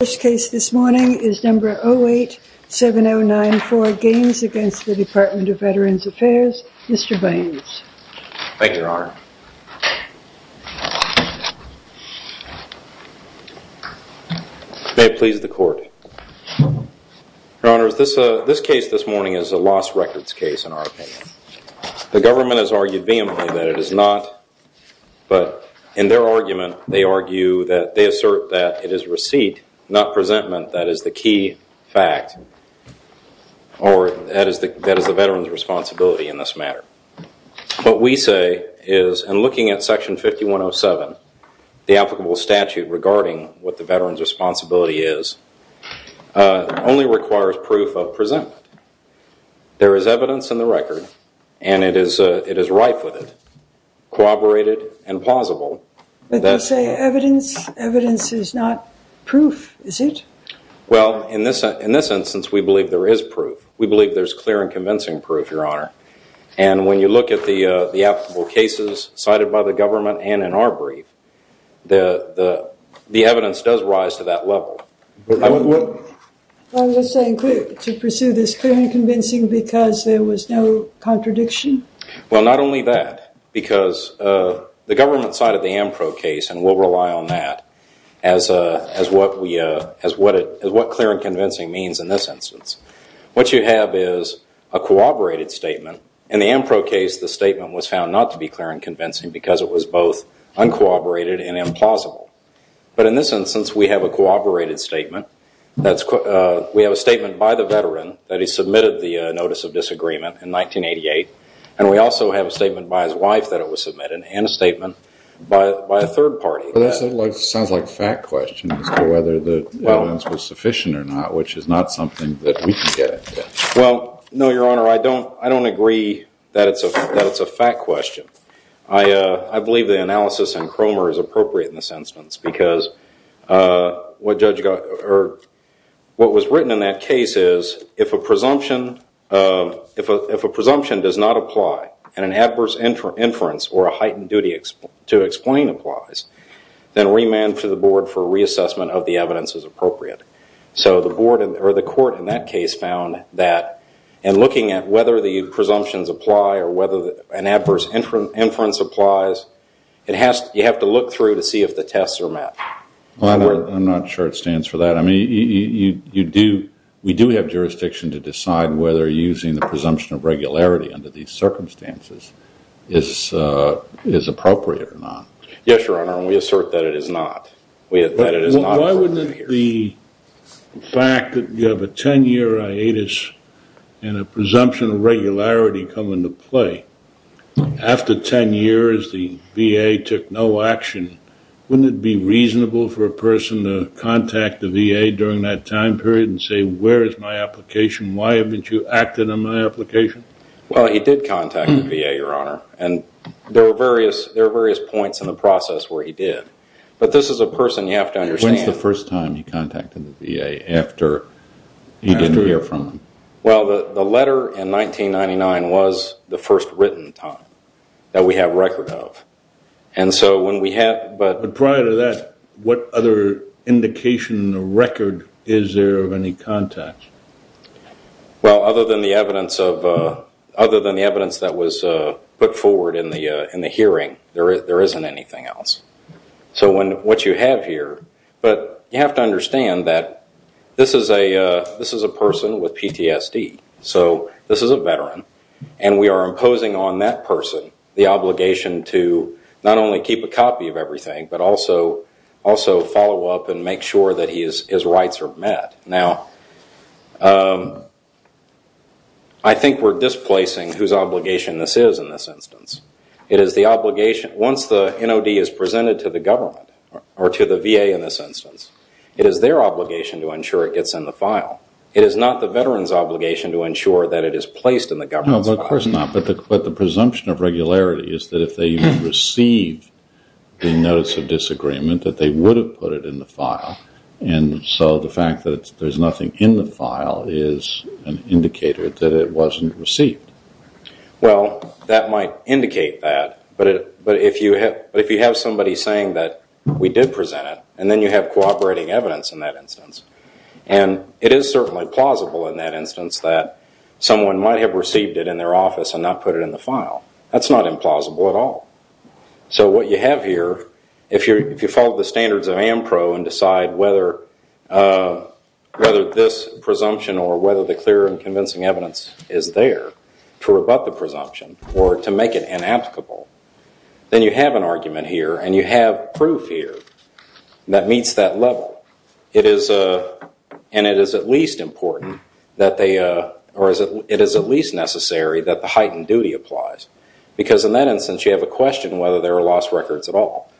The first case this morning is number 087094, Gaines v. DVA, Mr. Baines. Thank you, Your Honor. May it please the Court. Your Honor, this case this morning is a lost records case, in our opinion. The government has argued vehemently that it is not, but in their argument, they argue that, they assert that it is receipt, not presentment that is the key fact, or that is the veteran's responsibility in this matter. What we say is in looking at section 5107, the applicable statute regarding what the veteran's responsibility is, only requires proof of presentment. There is evidence in the record, and it is rife with it, corroborated and plausible, But they say evidence is not proof, is it? Well, in this instance, we believe there is proof. We believe there is clear and convincing proof, Your Honor. And when you look at the applicable cases cited by the government and in our brief, the evidence does rise to that level. I'm just saying to pursue this clear and convincing because there was no contradiction? Well, not only that, because the government cited the Ampro case, and we'll rely on that as what clear and convincing means in this instance. What you have is a corroborated statement. In the Ampro case, the statement was found not to be clear and convincing because it was both uncorroborated and implausible. But in this instance, we have a corroborated statement. We have a statement by the veteran that he submitted the notice of disagreement in 1988, and we also have a statement by his wife that it was submitted, and a statement by a third party. But that sounds like a fact question as to whether the evidence was sufficient or not, which is not something that we can get at. Well, no, Your Honor, I don't agree that it's a fact question. I believe the analysis in Cromer is appropriate in this instance because what was written in that case is if a presumption does not apply and an adverse inference or a heightened duty to explain applies, then remand to the board for reassessment of the evidence is appropriate. So the court in that case found that in looking at whether the presumptions apply or whether an adverse inference applies, you have to look through to see if the tests are met. I'm not sure it stands for that. We do have jurisdiction to decide whether using the presumption of regularity under these circumstances is appropriate or not. Yes, Your Honor, and we assert that it is not. Why wouldn't the fact that you have a 10-year hiatus and a presumption of regularity come into play? After 10 years, the VA took no action. Wouldn't it be reasonable for a person to contact the VA during that time period and say, where is my application? Why haven't you acted on my application? Well, he did contact the VA, Your Honor, and there were various points in the process where he did. But this is a person you have to understand. When was the first time you contacted the VA after you didn't hear from him? Well, the letter in 1999 was the first written time that we have record of. But prior to that, what other indication or record is there of any contacts? Well, other than the evidence that was put forward in the hearing, there isn't anything else. So what you have here, but you have to understand that this is a person with PTSD. So this is a veteran, and we are imposing on that person the obligation to not only keep a copy of everything, but also follow up and make sure that his rights are met. Now, I think we're displacing whose obligation this is in this instance. Once the NOD is presented to the government or to the VA in this instance, it is their obligation to ensure it gets in the file. It is not the veteran's obligation to ensure that it is placed in the government's file. No, of course not. But the presumption of regularity is that if they receive the Notice of Disagreement, that they would have put it in the file. And so the fact that there's nothing in the file is an indicator that it wasn't received. Well, that might indicate that, but if you have somebody saying that we did present it, and then you have cooperating evidence in that instance, and it is certainly plausible in that instance that someone might have received it in their office and not put it in the file. That's not implausible at all. So what you have here, if you follow the standards of AMPRO and decide whether this presumption or whether the clear and convincing evidence is there to rebut the presumption or to make it inapplicable, then you have an argument here and you have proof here that meets that level. It is at least necessary that the heightened duty applies because in that instance you have a question whether there are lost records at all.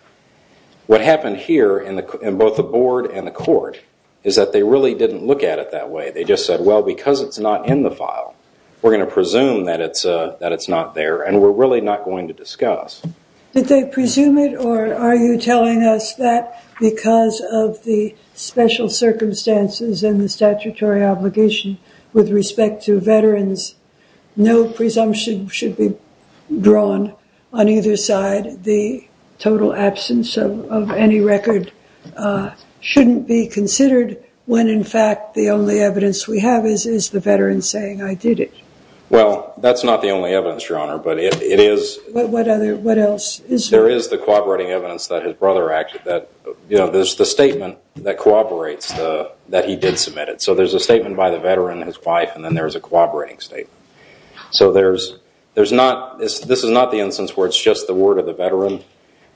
What happened here in both the board and the court is that they really didn't look at it that way. They just said, well, because it's not in the file, we're going to presume that it's not there and we're really not going to discuss. Did they presume it or are you telling us that because of the special circumstances and the statutory obligation with respect to veterans, no presumption should be drawn on either side, the total absence of any record shouldn't be considered when in fact the only evidence we have is the veteran saying I did it? Well, that's not the only evidence, Your Honor, but it is. What else is there? There is the corroborating evidence that his brother acted. There's the statement that corroborates that he did submit it. So there's a statement by the veteran and his wife and then there's a corroborating statement. So this is not the instance where it's just the word of the veteran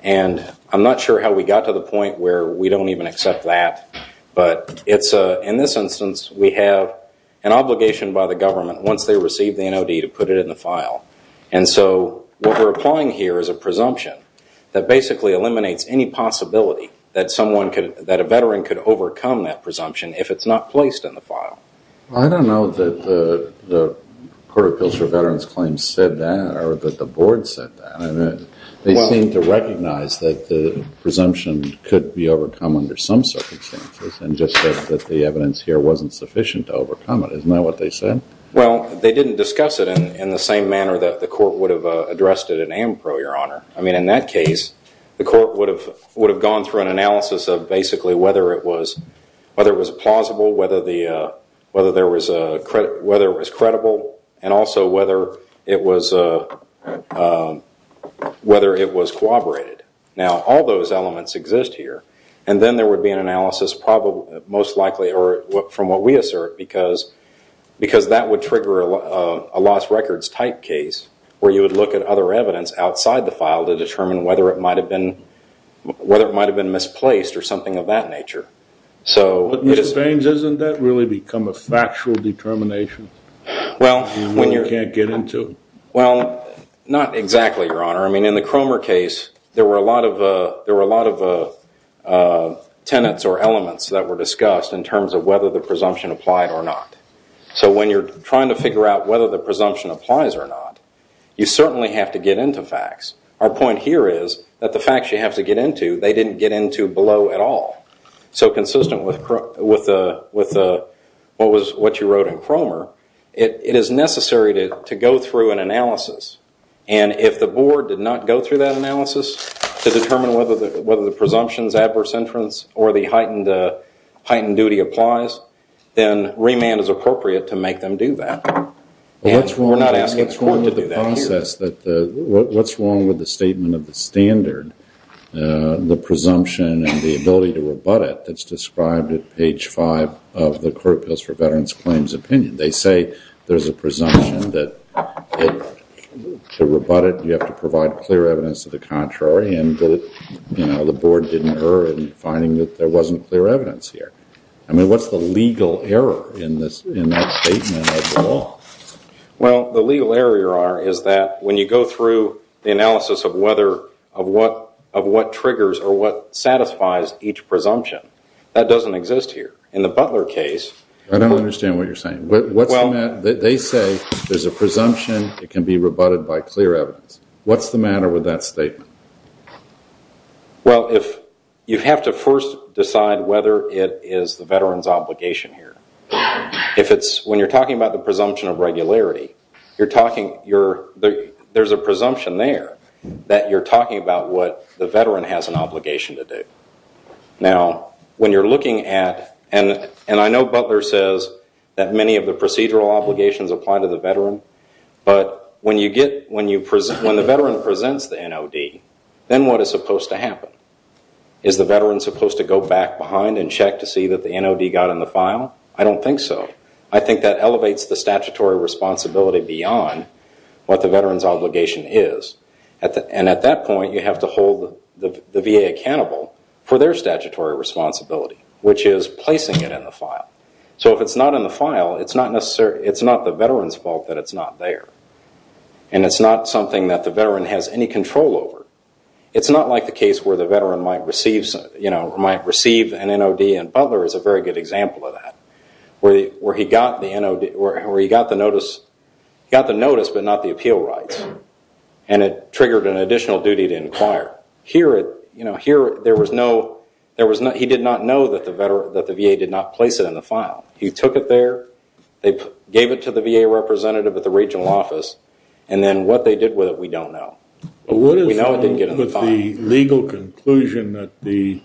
and I'm not sure how we got to the point where we don't even accept that, but in this instance we have an obligation by the government once they receive the NOD to put it in the file. And so what we're applying here is a presumption that basically eliminates any possibility that a veteran could overcome that presumption if it's not placed in the file. I don't know that the Court of Appeals for Veterans Claims said that or that the board said that. They seem to recognize that the presumption could be overcome under some circumstances and just that the evidence here wasn't sufficient to overcome it. Isn't that what they said? Well, they didn't discuss it in the same manner that the court would have addressed it at AMPRO, Your Honor. I mean, in that case the court would have gone through an analysis of basically whether it was plausible, whether it was credible, and also whether it was corroborated. Now, all those elements exist here and then there would be an analysis most likely from what we assert because that would trigger a lost records type case where you would look at other evidence outside the file to determine whether it might have been misplaced or something of that nature. But, Mr. Baines, doesn't that really become a factual determination that we can't get into? Well, not exactly, Your Honor. I mean, in the Cromer case there were a lot of tenets or elements that were discussed in terms of whether the presumption applied or not. So when you're trying to figure out whether the presumption applies or not, you certainly have to get into facts. Our point here is that the facts you have to get into they didn't get into below at all. So consistent with what you wrote in Cromer, it is necessary to go through an analysis and if the board did not go through that analysis to determine whether the presumption is adverse inference or the heightened duty applies, then remand is appropriate to make them do that. We're not asking the court to do that here. What's wrong with the statement of the standard, the presumption and the ability to rebut it that's described at page five of the Court Appeals for Veterans Claims opinion? They say there's a presumption that to rebut it you have to provide clear evidence of the contrary and the board didn't err in finding that there wasn't clear evidence here. I mean, what's the legal error in that statement of the law? Well, the legal error is that when you go through the analysis of what triggers or what satisfies each presumption, that doesn't exist here. In the Butler case... I don't understand what you're saying. They say there's a presumption that can be rebutted by clear evidence. What's the matter with that statement? Well, you have to first decide whether it is the veteran's obligation here. When you're talking about the presumption of regularity, there's a presumption there that you're talking about what the veteran has an obligation to do. Now, when you're looking at... and I know Butler says that many of the procedural obligations apply to the veteran, but when the veteran presents the NOD, then what is supposed to happen? Is the veteran supposed to go back behind and check to see that the NOD got in the file? I don't think so. I think that elevates the statutory responsibility beyond what the veteran's obligation is. And at that point, you have to hold the VA accountable for their statutory responsibility, which is placing it in the file. So if it's not in the file, it's not the veteran's fault that it's not there. And it's not something that the veteran has any control over. It's not like the case where the veteran might receive an NOD, and Butler is a very good example of that, where he got the notice but not the appeal rights, and it triggered an additional duty to inquire. Here, he did not know that the VA did not place it in the file. He took it there, they gave it to the VA representative at the regional office, and then what they did with it, we don't know. What is wrong with the legal conclusion that the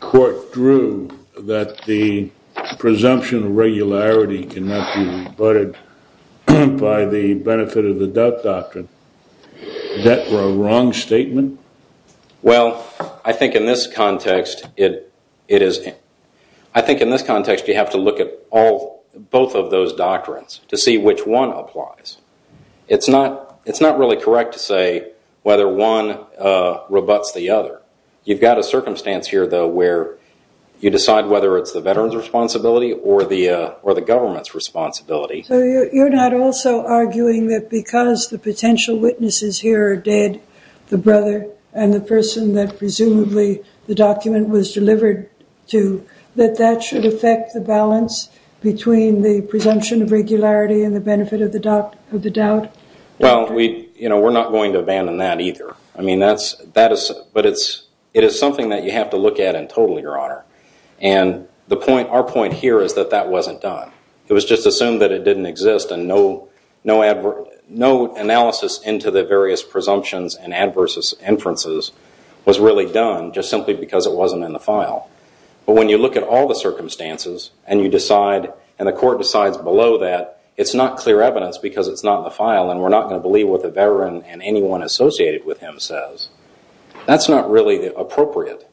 court drew that the presumption of regularity cannot be rebutted by the benefit of the death doctrine? Is that a wrong statement? Well, I think in this context, you have to look at both of those doctrines to see which one applies. It's not really correct to say whether one rebuts the other. You've got a circumstance here, though, where you decide whether it's the veteran's responsibility or the government's responsibility. So you're not also arguing that because the potential witnesses here are dead, the brother and the person that presumably the document was delivered to, that that should affect the balance between the presumption of regularity and the benefit of the doubt? Well, we're not going to abandon that either. But it is something that you have to look at in total, Your Honor. And our point here is that that wasn't done. It was just assumed that it didn't exist and no analysis into the various presumptions and adverse inferences was really done just simply because it wasn't in the file. But when you look at all the circumstances and you decide, and the court decides below that, it's not clear evidence because it's not in the file and we're not going to believe what the veteran and anyone associated with him says, that's not really appropriate.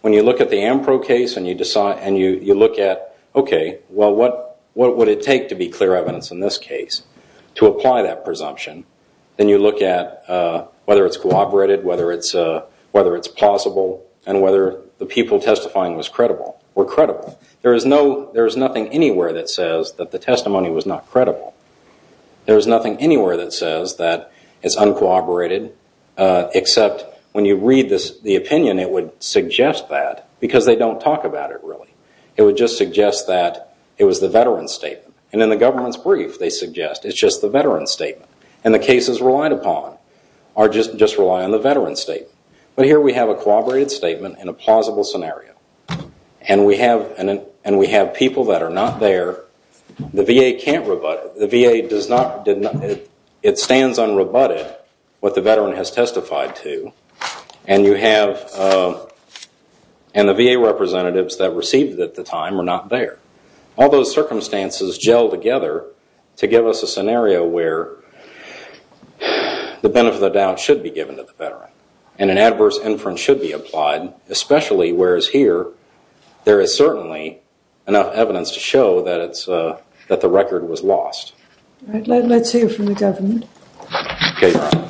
When you look at the Ampro case and you look at, okay, well, what would it take to be clear evidence in this case to apply that presumption? Then you look at whether it's cooperated, whether it's plausible, and whether the people testifying were credible. There is nothing anywhere that says that the testimony was not credible. There is nothing anywhere that says that it's uncooperated, except when you read the opinion it would suggest that because they don't talk about it really. It would just suggest that it was the veteran's statement. And in the government's brief they suggest it's just the veteran's statement. And the cases relied upon just rely on the veteran's statement. But here we have a cooperated statement and a plausible scenario. And we have people that are not there. The VA can't rebut it. The VA does not, it stands unrebutted what the veteran has testified to. And you have, and the VA representatives that received it at the time are not there. All those circumstances gel together to give us a scenario where And an adverse inference should be applied, especially whereas here there is certainly enough evidence to show that the record was lost. All right, let's hear from the government. Okay, Your Honor.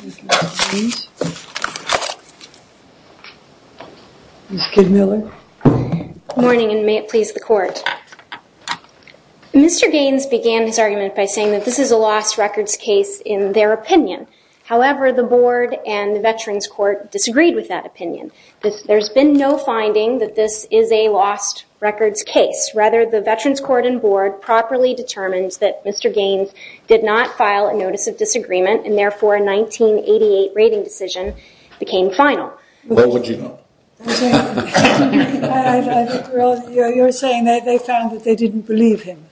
Mr. Gaines. Ms. Kidmiller. Good morning, and may it please the Court. Mr. Gaines began his argument by saying that this is a lost records case in their opinion. However, the Board and the Veterans Court disagreed with that opinion. There's been no finding that this is a lost records case. Rather, the Veterans Court and Board properly determined that Mr. Gaines did not file a notice of disagreement and therefore a 1988 rating decision became final. What would you know? You're saying that they found that they didn't believe him,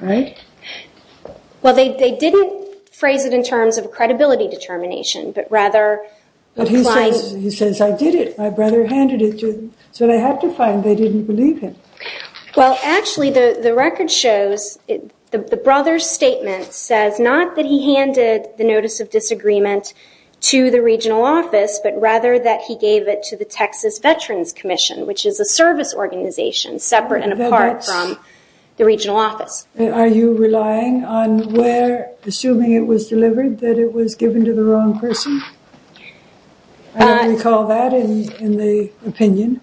right? Well, they didn't phrase it in terms of a credibility determination, but rather But he says, I did it, my brother handed it to them. So they have to find they didn't believe him. Well, actually the record shows, the brother's statement says not that he handed the notice of disagreement to the regional office, but rather that he gave it to the Texas Veterans Commission, which is a service organization separate and apart from the regional office. Are you relying on where, assuming it was delivered, that it was given to the wrong person? I don't recall that in the opinion.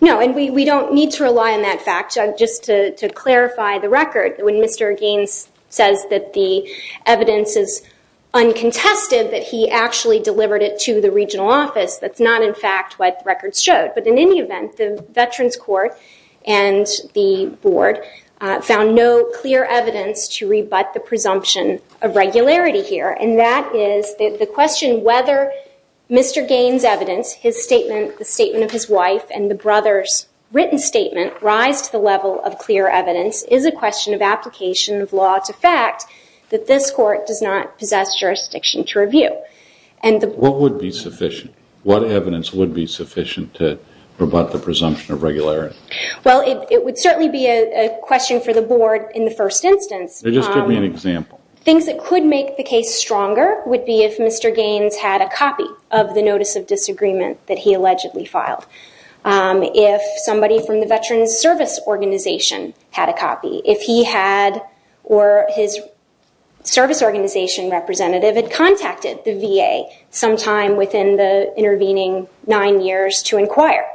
No, and we don't need to rely on that fact. Just to clarify the record, when Mr. Gaines says that the evidence is uncontested, that he actually delivered it to the regional office, that's not in fact what the record showed. But in any event, the Veterans Court and the board found no clear evidence to rebut the presumption of regularity here. And that is the question whether Mr. Gaines' evidence, his statement, the statement of his wife, and the brother's written statement rise to the level of clear evidence is a question of application of law to fact that this court does not possess jurisdiction to review. What would be sufficient? What evidence would be sufficient to rebut the presumption of regularity? Well, it would certainly be a question for the board in the first instance. Just give me an example. Things that could make the case stronger would be if Mr. Gaines had a copy of the notice of disagreement that he allegedly filed, if somebody from the Veterans Service Organization had a copy, if he had or his service organization representative had contacted the VA sometime within the intervening nine years to inquire,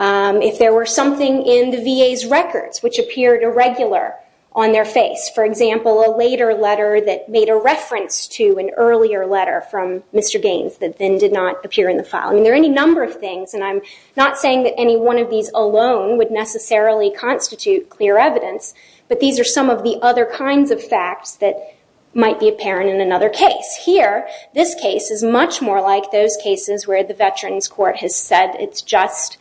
if there were something in the VA's records which appeared irregular on their face. For example, a later letter that made a reference to an earlier letter from Mr. Gaines that then did not appear in the file. I mean, there are any number of things. And I'm not saying that any one of these alone would necessarily constitute clear evidence, but these are some of the other kinds of facts that might be apparent in another case. Here, this case is much more like those cases where the Veterans Court has said it's just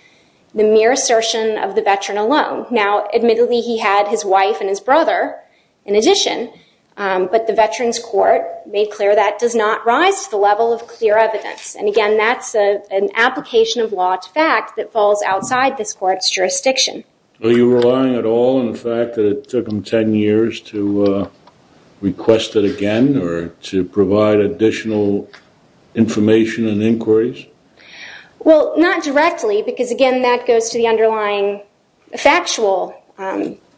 the mere assertion of the veteran alone. Now, admittedly, he had his wife and his brother in addition, but the Veterans Court made clear that does not rise to the level of clear evidence. And again, that's an application of law to fact that falls outside this court's jurisdiction. Are you relying at all on the fact that it took him 10 years to request it again or to provide additional information and inquiries? Well, not directly because, again, that goes to the underlying factual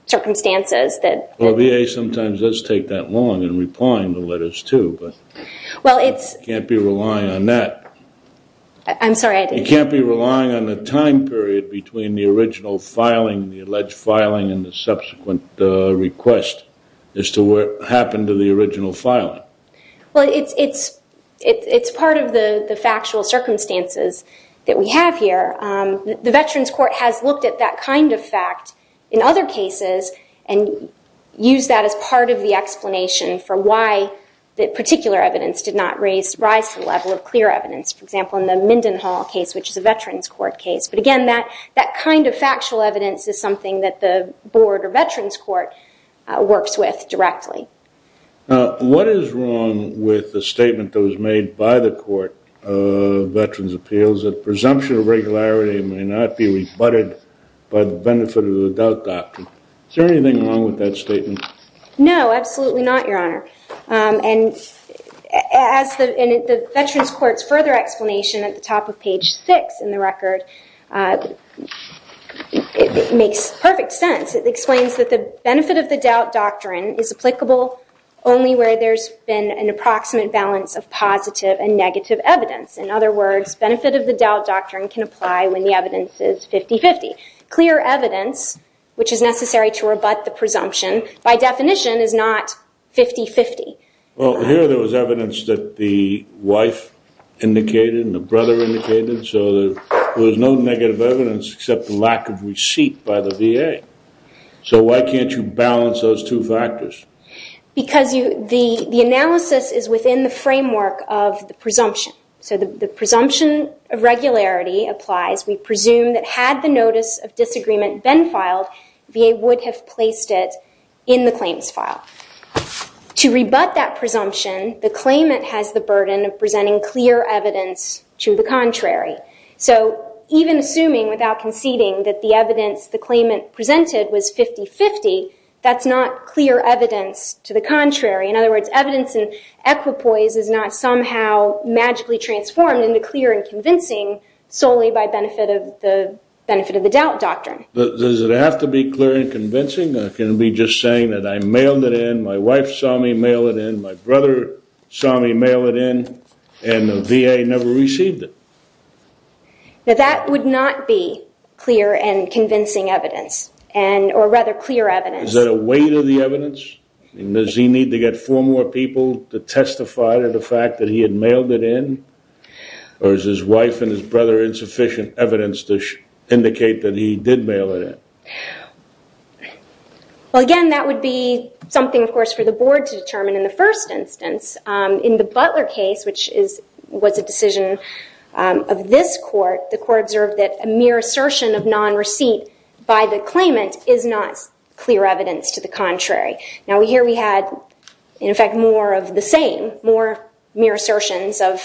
circumstances. Well, VA sometimes does take that long in replying to letters too, but you can't be relying on that. I'm sorry, I didn't hear you. You can't be relying on the time period between the original filing, the alleged filing, and the subsequent request as to what happened to the original filing. Well, it's part of the factual circumstances that we have here. The Veterans Court has looked at that kind of fact in other cases and used that as part of the explanation for why that particular evidence did not rise to the level of clear evidence, for example, in the Mindenhall case, which is a Veterans Court case. But again, that kind of factual evidence is something that the board or Veterans Court works with directly. What is wrong with the statement that was made by the Court of Veterans Appeals that presumption of regularity may not be rebutted by the benefit of the doubt doctrine? Is there anything wrong with that statement? No, absolutely not, Your Honor. And the Veterans Court's further explanation at the top of page 6 in the record makes perfect sense. It explains that the benefit of the doubt doctrine is applicable only where there's been an approximate balance of positive and negative evidence. In other words, benefit of the doubt doctrine can apply when the evidence is 50-50. Clear evidence, which is necessary to rebut the presumption, by definition is not 50-50. Well, here there was evidence that the wife indicated and the brother indicated, so there was no negative evidence except the lack of receipt by the VA. So why can't you balance those two factors? Because the analysis is within the framework of the presumption. So the presumption of regularity applies. We presume that had the notice of disagreement been filed, VA would have placed it in the claims file. To rebut that presumption, the claimant has the burden of presenting clear evidence to the contrary. So even assuming without conceding that the evidence the claimant presented was 50-50, that's not clear evidence to the contrary. In other words, evidence in equipoise is not somehow magically transformed into clear and convincing solely by benefit of the doubt doctrine. Does it have to be clear and convincing? Or can it be just saying that I mailed it in, my wife saw me mail it in, my brother saw me mail it in, and the VA never received it? That would not be clear and convincing evidence, or rather clear evidence. Is that a weight of the evidence? Does he need to get four more people to testify to the fact that he had mailed it in? Or is his wife and his brother insufficient evidence to indicate that he did mail it in? Well, again, that would be something, of course, for the board to determine in the first instance. In the Butler case, which was a decision of this court, the court observed that a mere assertion of non-receipt by the claimant is not clear evidence to the contrary. Now, here we had, in effect, more of the same, more mere assertions of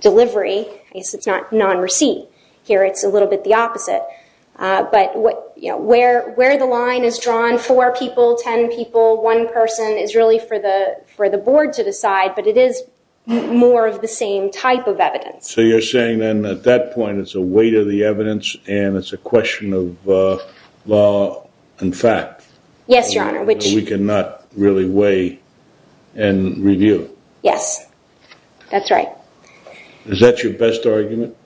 delivery. It's not non-receipt. Here it's a little bit the opposite. But where the line is drawn, four people, ten people, one person, is really for the board to decide, but it is more of the same type of evidence. So you're saying then at that point it's a weight of the evidence and it's a question of law and fact. Yes, Your Honor. Which we cannot really weigh and review. Yes, that's right. Is that your best argument?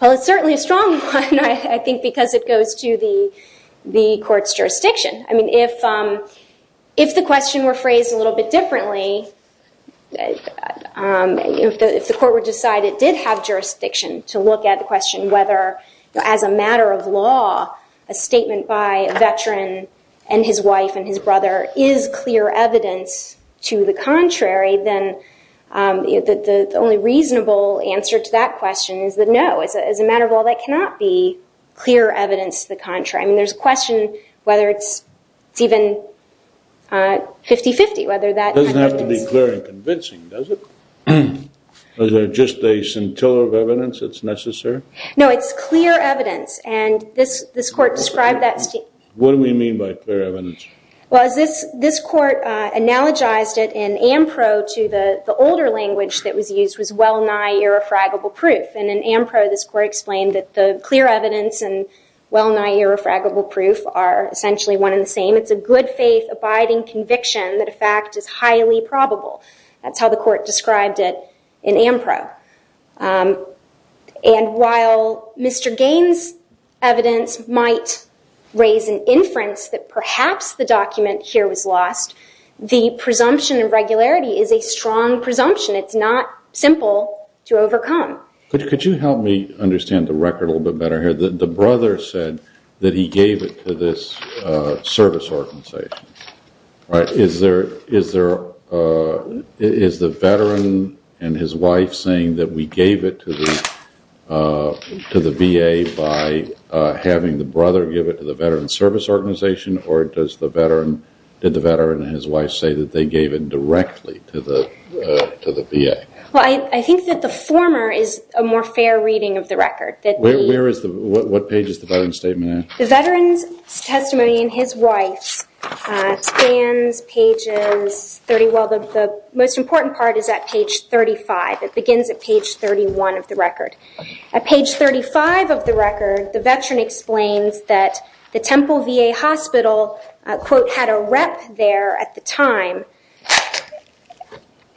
Well, it's certainly a strong one, I think, because it goes to the court's jurisdiction. I mean, if the question were phrased a little bit differently, if the court were to decide it did have jurisdiction to look at the question whether, as a matter of law, a statement by a veteran and his wife and his brother is clear evidence to the contrary, then the only reasonable answer to that question is that no, as a matter of law, that cannot be clear evidence to the contrary. I mean, there's a question whether it's even 50-50. It doesn't have to be clear and convincing, does it? Is there just a scintilla of evidence that's necessary? No, it's clear evidence, and this court described that statement. What do we mean by clear evidence? Well, this court analogized it in AMPRO to the older language that was used was well-nigh irrefragable proof. And in AMPRO, this court explained that the clear evidence and well-nigh irrefragable proof are essentially one and the same. It's a good faith abiding conviction that a fact is highly probable. That's how the court described it in AMPRO. And while Mr. Gaines' evidence might raise an inference that perhaps the document here was lost, the presumption of regularity is a strong presumption. It's not simple to overcome. Could you help me understand the record a little bit better here? The brother said that he gave it to this service organization. Is the veteran and his wife saying that we gave it to the VA by having the brother give it to the veteran service organization, or did the veteran and his wife say that they gave it directly to the VA? Well, I think that the former is a more fair reading of the record. What page is the veteran's statement in? The veteran's testimony and his wife's spans pages 30. Well, the most important part is at page 35. It begins at page 31 of the record. At page 35 of the record, the veteran explains that the Temple VA hospital, quote, had a rep there at the time,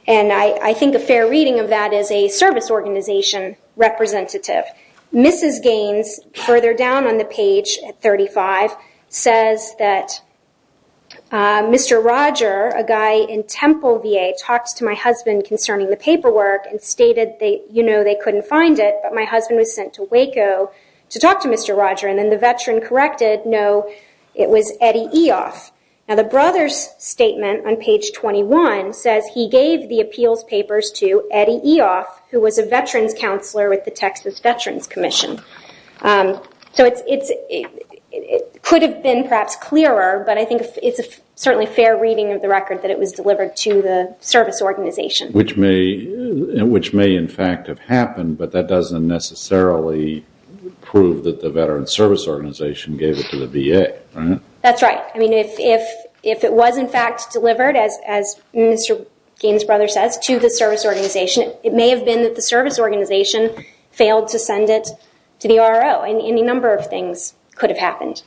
and I think a fair reading of that is a service organization representative. Mrs. Gaines, further down on the page at 35, says that Mr. Roger, a guy in Temple VA, talked to my husband concerning the paperwork and stated, you know, they couldn't find it, but my husband was sent to Waco to talk to Mr. Roger, and then the veteran corrected, no, it was Eddie Eoff. Now, the brother's statement on page 21 says he gave the appeals papers to Eddie Eoff, who was a veterans counselor with the Texas Veterans Commission. So it could have been perhaps clearer, but I think it's certainly a fair reading of the record that it was delivered to the service organization. Which may in fact have happened, but that doesn't necessarily prove that the veterans service organization gave it to the VA, right? That's right. I mean, if it was in fact delivered, as Mr. Gaines' brother says, to the service organization, it may have been that the service organization failed to send it to the RO, and any number of things could have happened.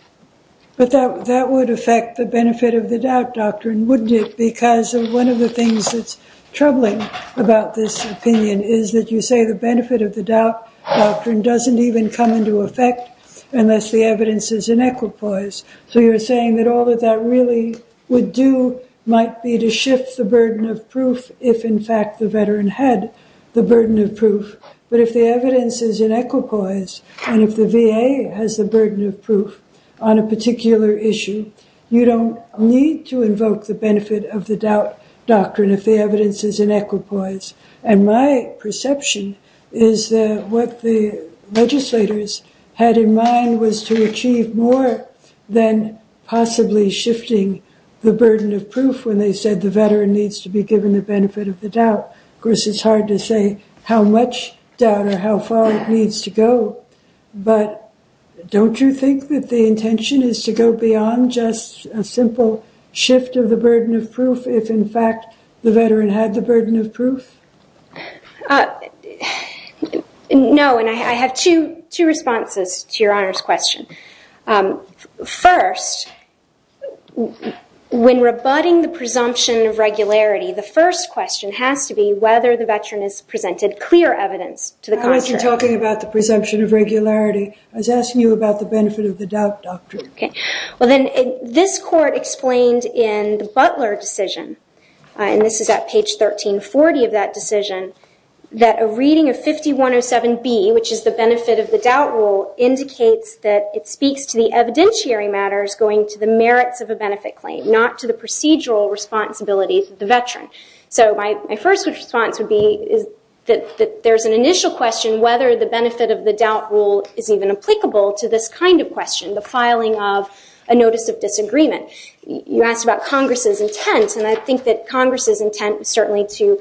But that would affect the benefit of the doubt doctrine. Wouldn't it? Because one of the things that's troubling about this opinion is that you say the benefit of the doubt doctrine doesn't even come into effect unless the evidence is in equipoise. So you're saying that all that that really would do might be to shift the burden of proof if in fact the veteran had the burden of proof. But if the evidence is in equipoise, and if the VA has the burden of proof on a particular issue, you don't need to invoke the benefit of the doubt doctrine if the evidence is in equipoise. And my perception is that what the legislators had in mind was to achieve more than possibly shifting the burden of proof when they said the veteran needs to be given the benefit of the doubt. Of course, it's hard to say how much doubt or how far it needs to go. But don't you think that the intention is to go beyond just a simple shift of the burden of proof if in fact the veteran had the burden of proof? No, and I have two responses to Your Honor's question. First, when rebutting the presumption of regularity, the first question has to be whether the veteran has presented clear evidence to the contrary. I wasn't talking about the presumption of regularity. I was asking you about the benefit of the doubt doctrine. Well, then this court explained in the Butler decision, and this is at page 1340 of that decision, that a reading of 5107B, which is the benefit of the doubt rule, indicates that it speaks to the evidentiary matters going to the merits of a benefit claim, not to the procedural responsibilities of the veteran. So my first response would be that there's an initial question whether the benefit of the doubt rule is even applicable to this kind of question, the filing of a notice of disagreement. You asked about Congress's intent, and I think that Congress's intent was certainly to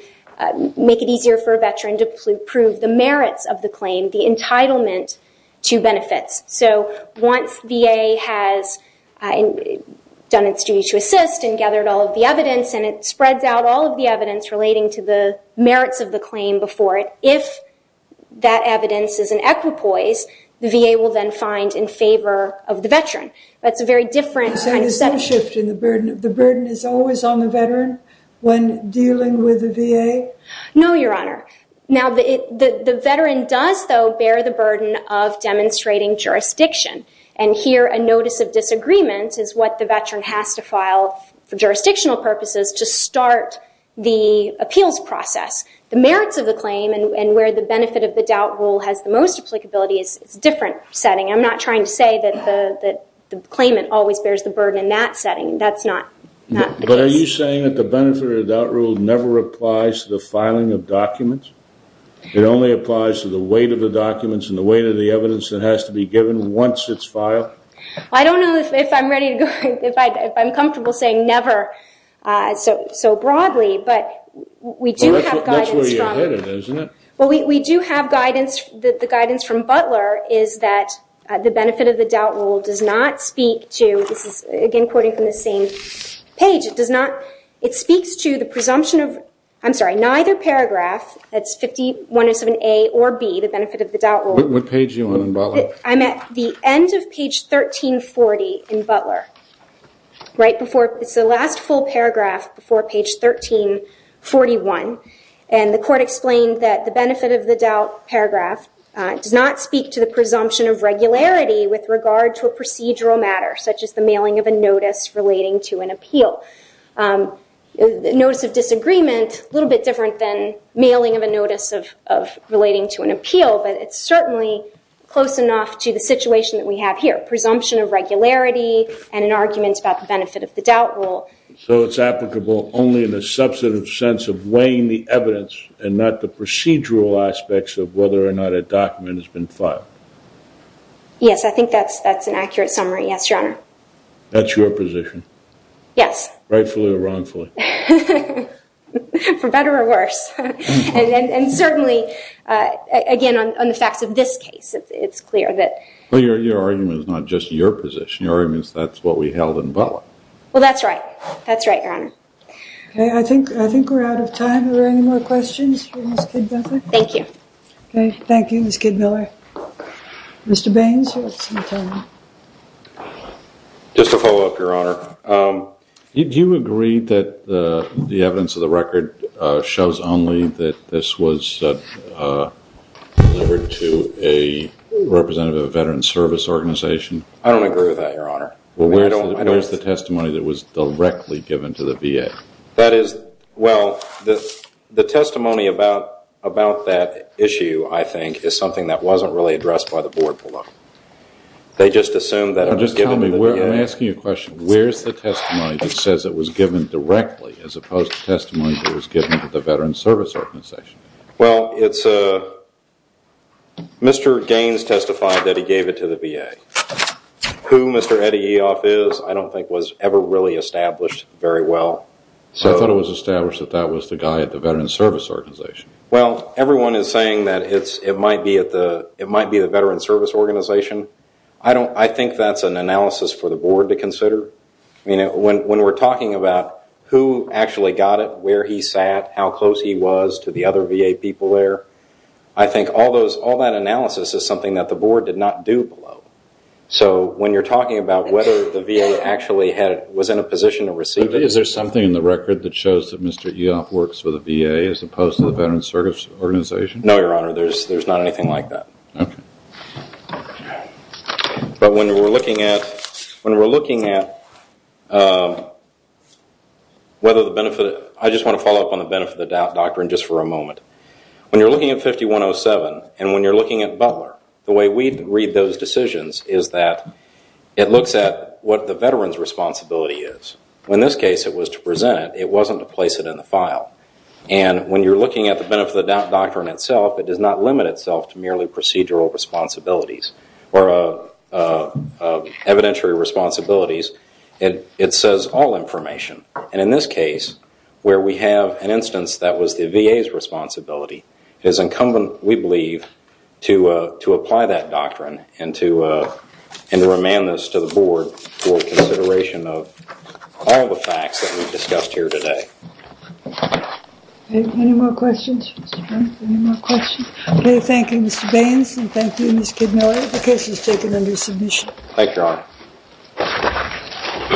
make it easier for a veteran to prove the merits of the claim, the entitlement to benefits. So once VA has done its duty to assist and gathered all of the evidence and it spreads out all of the evidence relating to the merits of the claim before it, if that evidence is an equipoise, the VA will then find in favor of the veteran. That's a very different kind of setting. So there's no shift in the burden. The burden is always on the veteran when dealing with the VA? No, Your Honor. Now, the veteran does, though, bear the burden of demonstrating jurisdiction. And here, a notice of disagreement is what the veteran has to file for jurisdictional purposes to start the appeals process. The merits of the claim and where the benefit of the doubt rule has the most applicability is a different setting. I'm not trying to say that the claimant always bears the burden in that setting. That's not the case. But are you saying that the benefit of the doubt rule never applies to the filing of documents? It only applies to the weight of the documents and the weight of the evidence that has to be given once it's filed? I don't know if I'm ready to go. If I'm comfortable saying never so broadly. But we do have guidance. That's where you're headed, isn't it? Well, we do have guidance. The guidance from Butler is that the benefit of the doubt rule does not speak to, this is, again, quoting from the same page, it speaks to the presumption of, I'm sorry, neither paragraph, that's 51-7A or B, the benefit of the doubt rule. What page are you on in Butler? I'm at the end of page 1340 in Butler. It's the last full paragraph before page 1341. And the court explained that the benefit of the doubt paragraph does not speak to the presumption of regularity with regard to a procedural matter, such as the mailing of a notice relating to an appeal. Notice of disagreement, a little bit different than mailing of a notice of relating to an appeal, but it's certainly close enough to the situation that we have here. Presumption of regularity and an argument about the benefit of the doubt rule. So it's applicable only in a substantive sense of weighing the evidence and not the procedural aspects of whether or not a document has been filed? Yes, I think that's an accurate summary. Yes, Your Honor. That's your position? Yes. Rightfully or wrongfully? For better or worse. And certainly, again, on the facts of this case, it's clear that. Well, your argument is not just your position. Your argument is that's what we held in Butler. Well, that's right. That's right, Your Honor. Okay, I think we're out of time. Are there any more questions for Ms. Kidmiller? Thank you. Okay, thank you, Ms. Kidmiller. Mr. Baines, you have some time. Just to follow up, Your Honor, did you agree that the evidence of the record shows only that this was delivered to a representative of a veteran's service organization? I don't agree with that, Your Honor. Well, where is the testimony that was directly given to the VA? Well, the testimony about that issue, I think, is something that wasn't really addressed by the Board below. They just assumed that it was given to the VA. I'm asking you a question. Where is the testimony that says it was given directly as opposed to testimony that was given to the veteran's service organization? Well, Mr. Baines testified that he gave it to the VA. Who Mr. Eddie Eoff is I don't think was ever really established very well. I thought it was established that that was the guy at the veteran's service organization. Well, everyone is saying that it might be the veteran's service organization. I think that's an analysis for the Board to consider. When we're talking about who actually got it, where he sat, how close he was to the other VA people there, I think all that analysis is something that the Board did not do below. So when you're talking about whether the VA actually was in a position to receive it. Is there something in the record that shows that Mr. Eoff works for the VA as opposed to the veteran's service organization? No, Your Honor. There's not anything like that. Okay. But when we're looking at whether the benefit of it, I just want to follow up on the benefit of the doctrine just for a moment. When you're looking at 5107 and when you're looking at Butler, the way we read those decisions is that it looks at what the veteran's responsibility is. In this case, it was to present it. It wasn't to place it in the file. And when you're looking at the benefit of the doctrine itself, it does not limit itself to merely procedural responsibilities or evidentiary responsibilities. It says all information. And in this case, where we have an instance that was the VA's responsibility, it is incumbent, we believe, to apply that doctrine and to remand this to the Board for consideration of all the facts that we've discussed here today. Any more questions? Any more questions? Okay. Thank you, Mr. Baines, and thank you, Ms. Kidney. The case is taken under submission. Thank you, Your Honor.